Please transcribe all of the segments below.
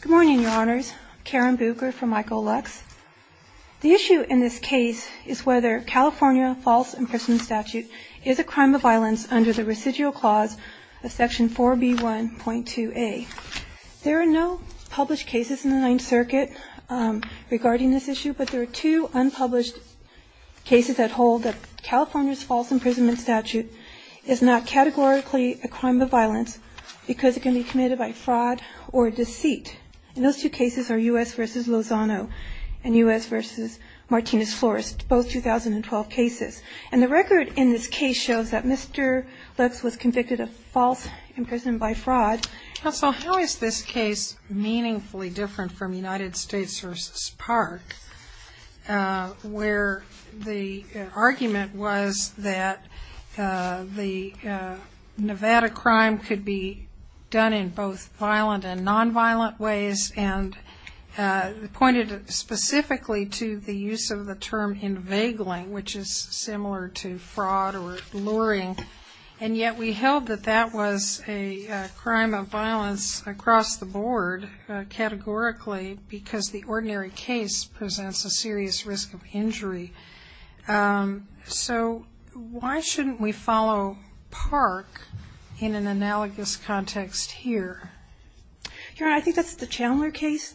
Good morning, Your Honors. Karen Bucher for Michael Lux. The issue in this case is whether California false imprisonment statute is a crime of violence under the residual clause of Section 4B1.2a. There are no published cases in the Ninth Circuit regarding this issue, but there are two unpublished cases that hold that California's false imprisonment statute is not categorically a crime of violence because it can be committed by fraud or deceit. And those two cases are U.S. v. Lozano and U.S. v. Martinez-Florist, both 2012 cases. And the record in this case shows that Mr. Lux was convicted of false imprisonment by fraud. Counsel, how is this case meaningfully different from United States v. Park, where the argument was that the Nevada crime could be done in both violent and nonviolent ways, and pointed specifically to the use of the term invagling, which is similar to fraud or luring. And yet we held that that was a crime of violence across the board categorically because the ordinary case presents a serious risk of injury. So why shouldn't we follow Park in an analogous context here? Your Honor, I think that's the Chandler case.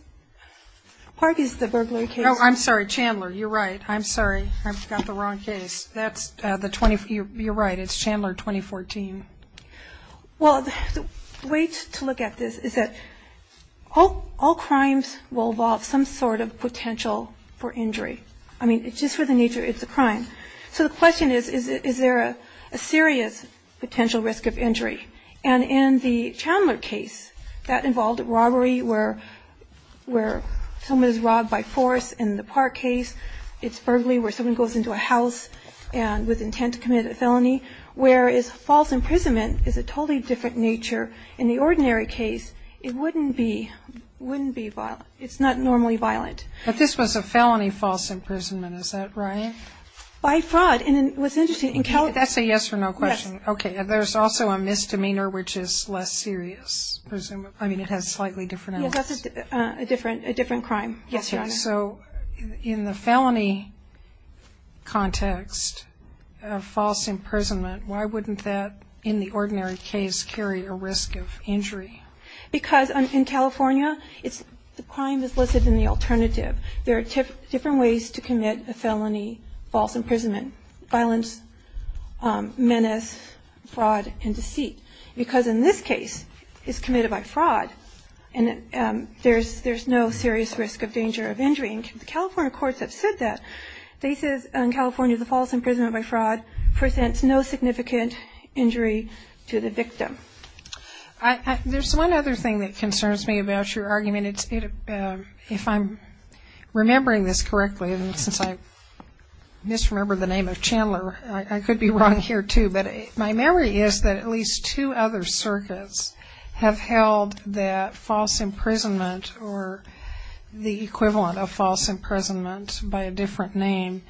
Park is the burglary case. Oh, I'm sorry. Chandler. You're right. I'm sorry. I've got the wrong case. That's the 2014. You're right. It's Chandler 2014. Well, the way to look at this is that all crimes will involve some sort of potential for injury. I mean, just for the nature, it's a crime. So the question is, is there a serious potential risk of injury? And in the Chandler case, that involved robbery where someone is robbed by force. In the Park case, it's burglary where someone goes into a house with intent to commit a felony, whereas false imprisonment is a totally different nature. In the ordinary case, it wouldn't be violent. It's not normally violent. But this was a felony false imprisonment. Is that right? By fraud. And what's interesting, in California... That's a yes or no question. Yes. Okay. There's also a misdemeanor which is less serious, presumably. I mean, it has slightly different elements. Yes, that's a different crime. Yes, Your Honor. So in the felony context of false imprisonment, why wouldn't that, in the ordinary case, carry a risk of injury? Because in California, the crime is listed in the alternative. There are different ways to commit a felony false imprisonment, violence, menace, fraud, and deceit. Because in this case, it's committed by fraud, and there's no serious risk of danger of injury. And California courts have said that. They said in California, the false imprisonment by fraud presents no significant injury to the victim. There's one other thing that concerns me about your argument. If I'm remembering this correctly, and since I misremember the name of Chandler, I could be wrong here, too. But my memory is that at least two other circuits have held that false imprisonment or the equivalent of false imprisonment by a different name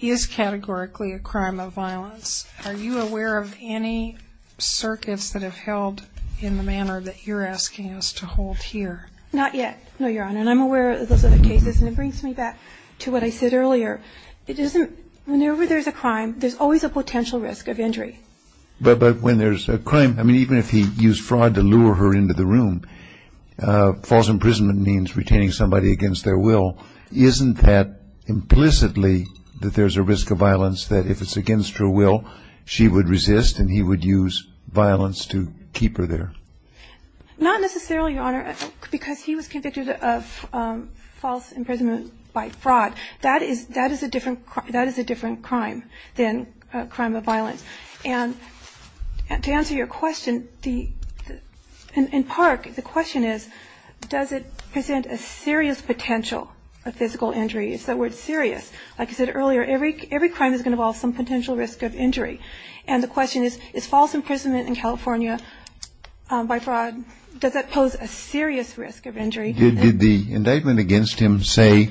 is categorically a crime of violence. Are you aware of any circuits that have held in the manner that you're asking us to hold here? Not yet, no, Your Honor. And I'm aware of those other cases. And it brings me back to what I said earlier. It isn't – whenever there's a crime, there's always a potential risk of injury. But when there's a crime – I mean, even if he used fraud to lure her into the room, false imprisonment means retaining somebody against their will. Isn't that implicitly that there's a risk of violence that if it's against her will, she would resist and he would use violence to keep her there? Not necessarily, Your Honor, because he was convicted of false imprisonment by fraud. That is a different crime than a crime of violence. And to answer your question, in Park, the question is, does it present a serious potential of physical injury? It's that word serious. Like I said earlier, every crime is going to involve some potential risk of injury. And the question is, is false imprisonment in California by fraud – does that pose a serious risk of injury? Did the indictment against him say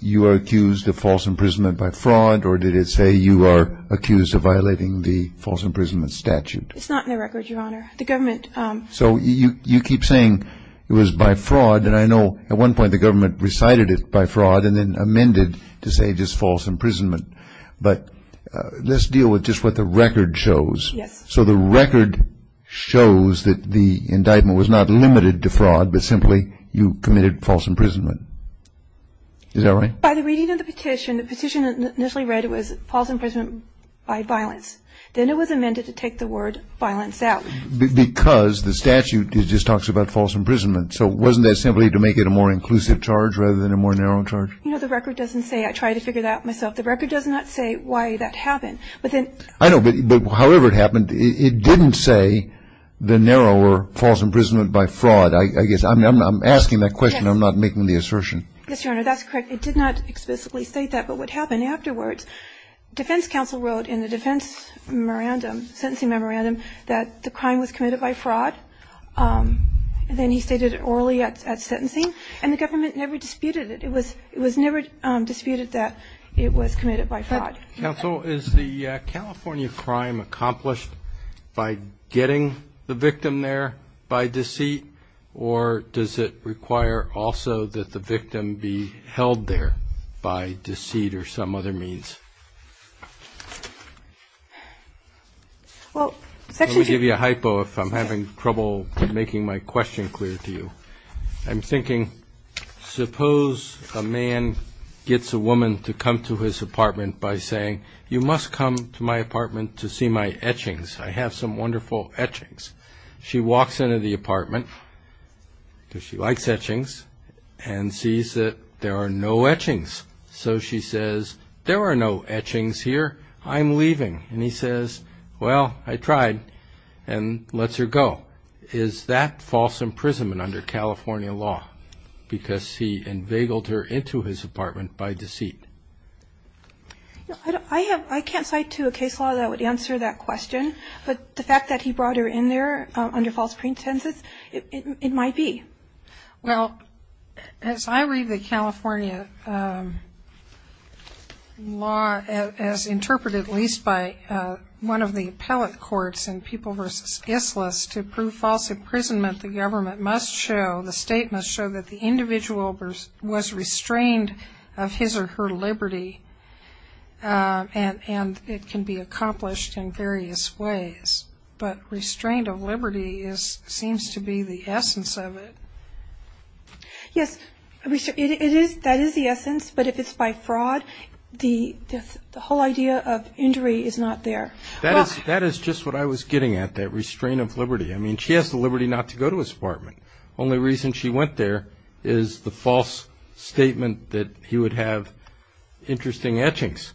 you are accused of false imprisonment by fraud or did it say you are accused of violating the false imprisonment statute? It's not in the record, Your Honor. The government – So you keep saying it was by fraud. And I know at one point the government recited it by fraud and then amended to say it was false imprisonment. But let's deal with just what the record shows. Yes. So the record shows that the indictment was not limited to fraud, but simply you committed false imprisonment. Is that right? By the reading of the petition, the petition initially read it was false imprisonment by violence. Then it was amended to take the word violence out. Because the statute just talks about false imprisonment. So wasn't that simply to make it a more inclusive charge rather than a more narrow charge? You know, the record doesn't say – I tried to figure that out myself. The record does not say why that happened. I know. But however it happened, it didn't say the narrower false imprisonment by fraud, I guess. I'm asking that question. I'm not making the assertion. Yes, Your Honor. That's correct. It did not explicitly state that. But what happened afterwards, defense counsel wrote in the defense memorandum, sentencing memorandum, that the crime was committed by fraud. Then he stated it orally at sentencing. And the government never disputed it. It was never disputed that it was committed by fraud. Counsel, is the California crime accomplished by getting the victim there by deceit, or does it require also that the victim be held there by deceit or some other means? Well, Section 2. Let me give you a hypo if I'm having trouble making my question clear to you. I'm thinking, suppose a man gets a woman to come to his apartment by saying, you must come to my apartment to see my etchings. I have some wonderful etchings. She walks into the apartment, because she likes etchings, and sees that there are no etchings. So she says, there are no etchings here. I'm leaving. And he says, well, I tried, and lets her go. Well, is that false imprisonment under California law, because he inveigled her into his apartment by deceit? I can't cite to a case law that would answer that question. But the fact that he brought her in there under false pretenses, it might be. Well, as I read the California law as interpreted at least by one of the appellate courts in People v. Islis, to prove false imprisonment, the government must show, the state must show that the individual was restrained of his or her liberty, and it can be accomplished in various ways. But restraint of liberty seems to be the essence of it. Yes, that is the essence. But if it's by fraud, the whole idea of injury is not there. That is just what I was getting at, that restraint of liberty. I mean, she has the liberty not to go to his apartment. The only reason she went there is the false statement that he would have interesting etchings.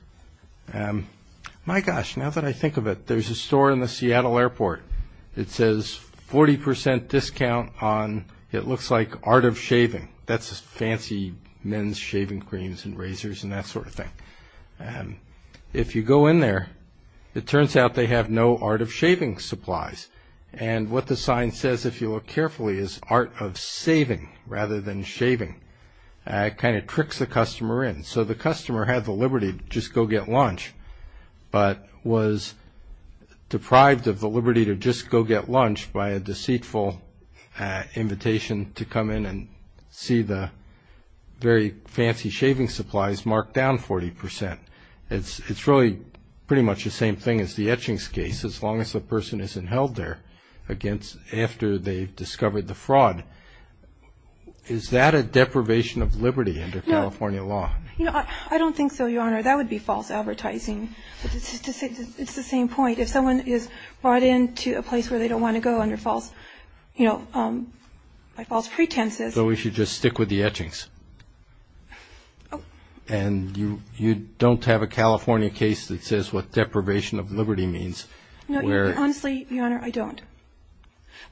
My gosh, now that I think of it, there's a store in the Seattle airport. It says 40% discount on, it looks like, art of shaving. That's fancy men's shaving creams and razors and that sort of thing. If you go in there, it turns out they have no art of shaving supplies. And what the sign says, if you look carefully, is art of saving rather than shaving. It kind of tricks the customer in. So the customer had the liberty to just go get lunch, but was deprived of the liberty to just go get lunch by a deceitful invitation to come in and see the very fancy shaving supplies marked down 40%. It's really pretty much the same thing as the etchings case, as long as the person isn't held there after they've discovered the fraud. Is that a deprivation of liberty under California law? I don't think so, Your Honor. That would be false advertising. It's the same point. If someone is brought into a place where they don't want to go under false, you know, by false pretenses. So we should just stick with the etchings? And you don't have a California case that says what deprivation of liberty means? No, honestly, Your Honor, I don't.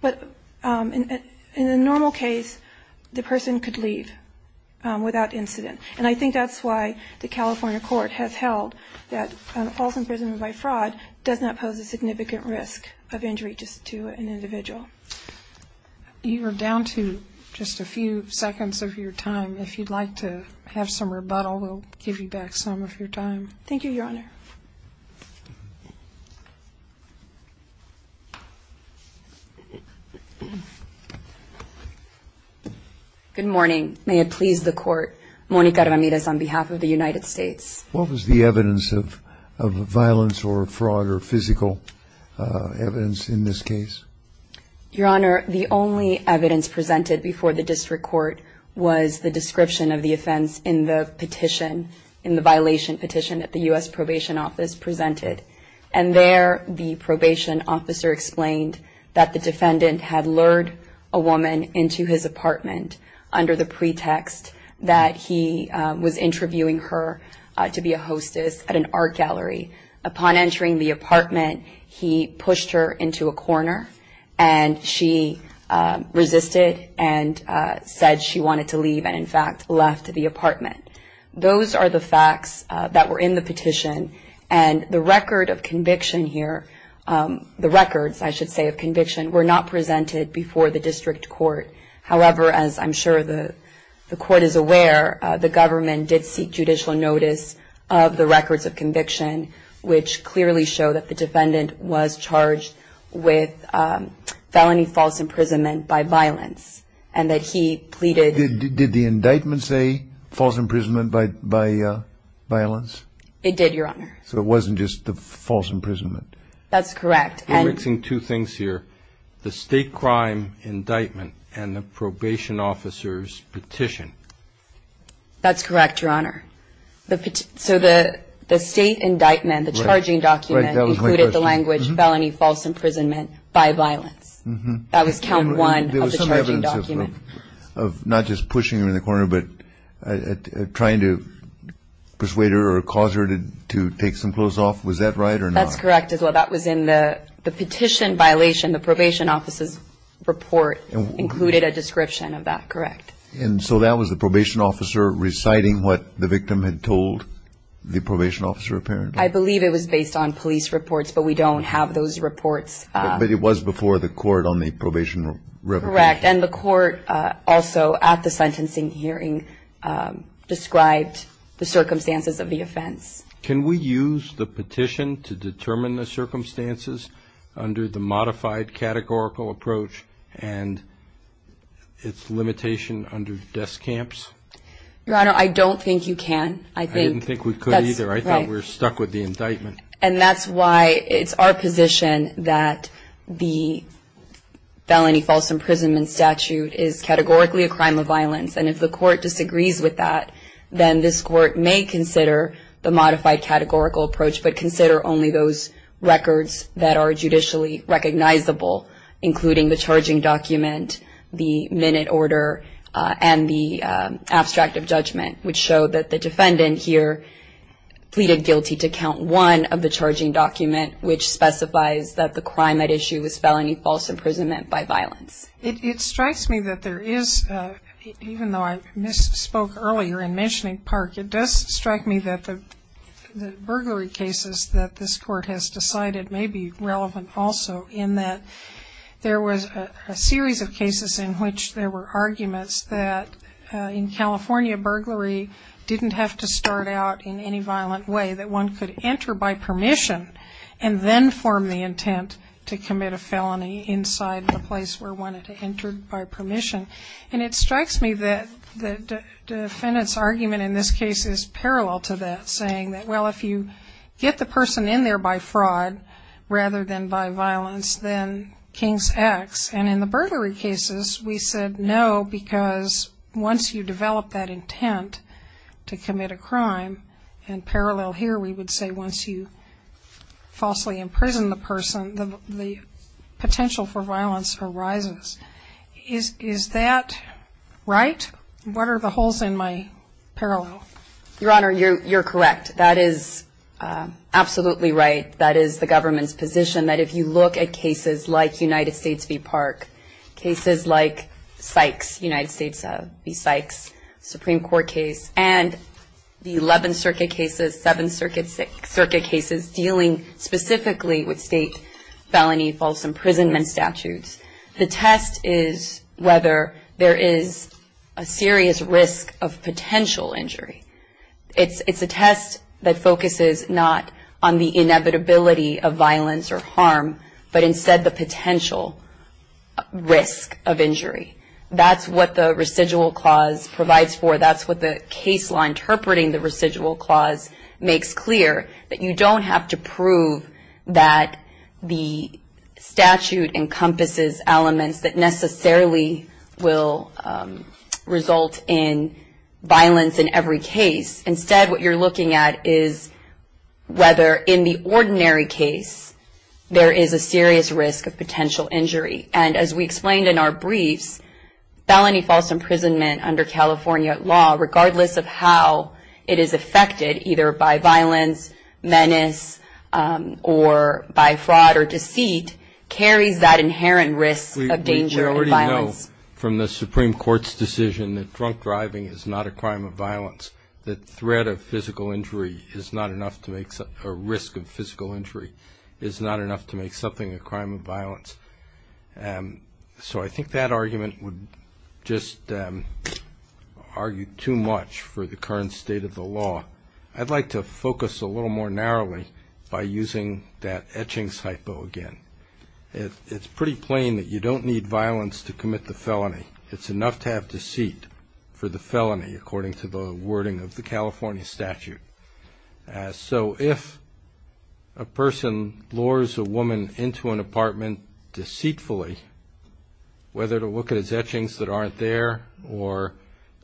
But in a normal case, the person could leave without incident. And I think that's why the California court has held that false imprisonment by fraud does not pose a significant risk of injury to an individual. You are down to just a few seconds of your time. If you'd like to have some rebuttal, we'll give you back some of your time. Thank you, Your Honor. Good morning. May it please the court, Monica Ramirez on behalf of the United States. What was the evidence of violence or fraud or physical evidence in this case? Your Honor, the only evidence presented before the district court was the description of the offense in the petition, in the violation petition that the U.S. Probation Office presented. And there the probation officer explained that the defendant had lured a woman into his apartment under the pretext that he was interviewing her to be a hostess at an art gallery. Upon entering the apartment, he pushed her into a corner, and she resisted and said she wanted to leave and, in fact, left the apartment. Those are the facts that were in the petition. And the record of conviction here, the records, I should say, of conviction, were not presented before the district court. However, as I'm sure the court is aware, the government did seek judicial notice of the records of conviction, which clearly show that the defendant was charged with felony false imprisonment by violence and that he pleaded. Did the indictment say false imprisonment by violence? It did, Your Honor. So it wasn't just the false imprisonment? That's correct. We're mixing two things here, the state crime indictment and the probation officer's petition. That's correct, Your Honor. So the state indictment, the charging document, included the language felony false imprisonment by violence. That was count one of the charging document. There was some evidence of not just pushing her in the corner, but trying to persuade her or cause her to take some clothes off. Was that right or not? That's correct as well. That was in the petition violation. The probation officer's report included a description of that. Correct. And so that was the probation officer reciting what the victim had told the probation officer apparently? I believe it was based on police reports, but we don't have those reports. But it was before the court on the probation record. Correct. And the court also at the sentencing hearing described the circumstances of the offense. Can we use the petition to determine the circumstances under the modified categorical approach and its limitation under desk camps? Your Honor, I don't think you can. I didn't think we could either. I think we're stuck with the indictment. And that's why it's our position that the felony false imprisonment statute is categorically a crime of violence. And if the court disagrees with that, then this court may consider the modified categorical approach, but consider only those records that are judicially recognizable, including the charging document, the minute order, and the abstract of judgment, which show that the defendant here pleaded guilty to count one of the charging document, which specifies that the crime at issue was felony false imprisonment by violence. It strikes me that there is, even though I misspoke earlier in mentioning Park, it does strike me that the burglary cases that this court has decided may be relevant also, in that there was a series of cases in which there were arguments that in California, burglary didn't have to start out in any violent way, that one could enter by permission and then form the intent to commit a felony inside the place where one had entered by permission. And it strikes me that the defendant's argument in this case is parallel to that, saying that, well, if you get the person in there by fraud rather than by violence, then King's X. And in the burglary cases, we said no, because once you develop that intent to commit a crime, and parallel here, we would say once you falsely imprison the person, the potential for violence arises. Is that right? What are the holes in my parallel? Your Honor, you're correct. That is absolutely right. That is the government's position, that if you look at cases like United States v. Park, cases like Sykes, United States v. Sykes, Supreme Court case, and the 11th Circuit cases, 7th Circuit cases dealing specifically with state felony false imprisonment statutes, the test is whether there is a serious risk of potential injury. It's a test that focuses not on the inevitability of violence or harm, but instead the potential risk of injury. That's what the residual clause provides for. That's what the case law interpreting the residual clause makes clear, that you don't have to prove that the statute encompasses elements that necessarily will result in violence in every case. Instead, what you're looking at is whether in the ordinary case there is a serious risk of potential injury. And as we explained in our briefs, felony false imprisonment under California law, regardless of how it is affected, either by violence, menace, or by fraud or deceit, carries that inherent risk of danger and violence. We already know from the Supreme Court's decision that drunk driving is not a crime of violence, that risk of physical injury is not enough to make something a crime of violence. So I think that argument would just argue too much for the current state of the law. I'd like to focus a little more narrowly by using that etchings hypo again. It's pretty plain that you don't need violence to commit the felony. It's enough to have deceit for the felony, according to the wording of the California statute. So if a person lures a woman into an apartment deceitfully, whether to look at his etchings that aren't there or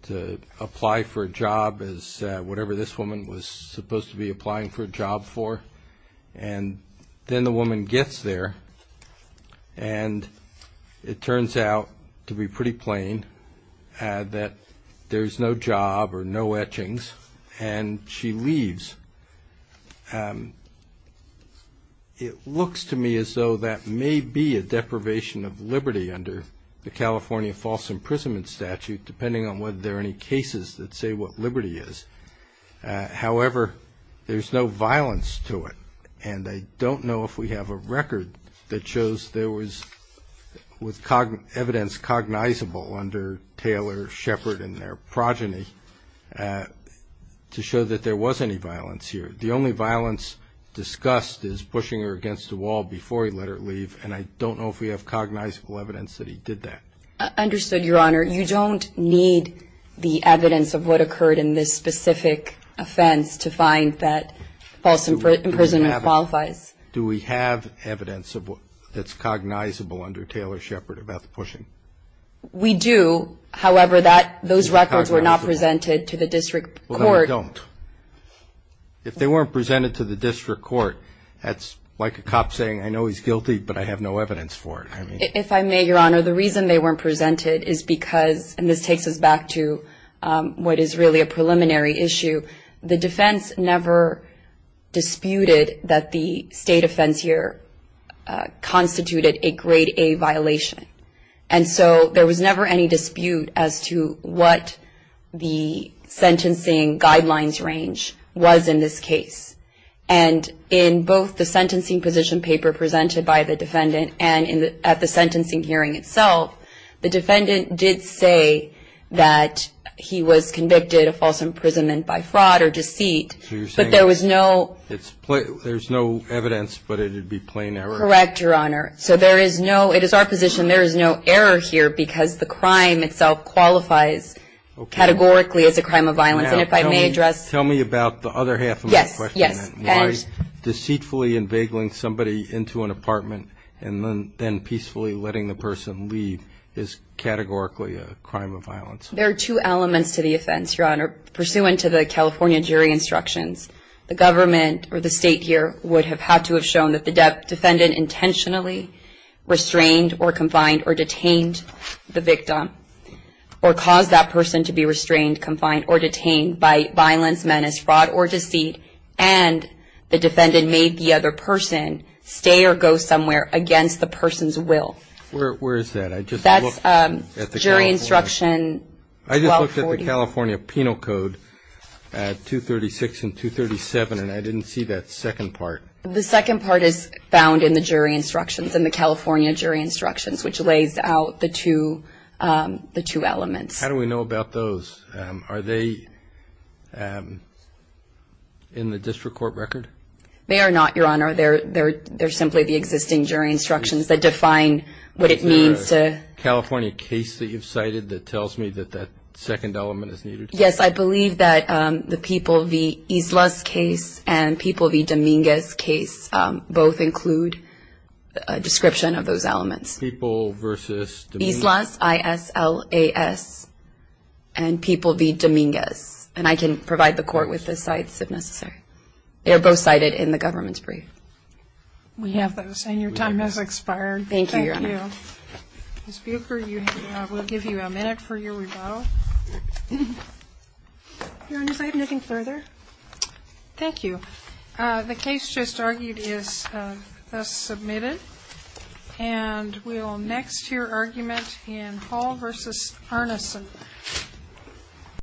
to apply for a job, as whatever this woman was supposed to be applying for a job for, and then the woman gets there, and it turns out to be pretty plain that there's no job or no etchings, and she leaves, it looks to me as though that may be a deprivation of liberty under the California false imprisonment statute, depending on whether there are any cases that say what liberty is. However, there's no violence to it, and I don't know if we have a record that shows there was evidence cognizable under Taylor, Shepard, and their progeny to show that there was any violence here. The only violence discussed is pushing her against the wall before he let her leave, and I don't know if we have cognizable evidence that he did that. Understood, Your Honor. You don't need the evidence of what occurred in this specific offense to find that false imprisonment qualifies. Do we have evidence that's cognizable under Taylor, Shepard about the pushing? We do. However, those records were not presented to the district court. Well, then they don't. If they weren't presented to the district court, that's like a cop saying, I know he's guilty, but I have no evidence for it. If I may, Your Honor, the reason they weren't presented is because, and this takes us back to what is really a preliminary issue, the defense never disputed that the state offense here constituted a grade A violation. And so there was never any dispute as to what the sentencing guidelines range was in this case. And in both the sentencing position paper presented by the defendant and at the sentencing hearing itself, the defendant did say that he was convicted of false imprisonment by fraud or deceit. So you're saying there's no evidence, but it would be plain error? Correct, Your Honor. So there is no, it is our position, there is no error here because the crime itself qualifies categorically as a crime of violence. Now, tell me about the other half of my question. Yes. Why deceitfully and vaguely somebody into an apartment and then peacefully letting the person leave is categorically a crime of violence? There are two elements to the offense, Your Honor. Pursuant to the California jury instructions, the government or the state here would have had to have shown that the defendant intentionally restrained or confined or detained the victim or caused that person to be restrained, confined, or detained by violence, menace, fraud, or deceit, and the defendant made the other person stay or go somewhere against the person's will. Where is that? That's jury instruction 1240. I just looked at the California Penal Code at 236 and 237, and I didn't see that second part. The second part is found in the jury instructions, in the California jury instructions, which lays out the two elements. How do we know about those? Are they in the district court record? They are not, Your Honor. They're simply the existing jury instructions that define what it means to... Is there a California case that you've cited that tells me that that second element is needed? Yes. I believe that the People v. Islas case and People v. Dominguez case both include a description of those elements. People versus... People v. Dominguez. And I can provide the Court with the cites if necessary. They are both cited in the government's brief. We have those, and your time has expired. Thank you, Your Honor. Thank you. Ms. Buecher, we'll give you a minute for your rebuttal. Your Honor, is there anything further? Thank you. The case just argued is thus submitted, and we will next hear argument in Hall v. Arneson.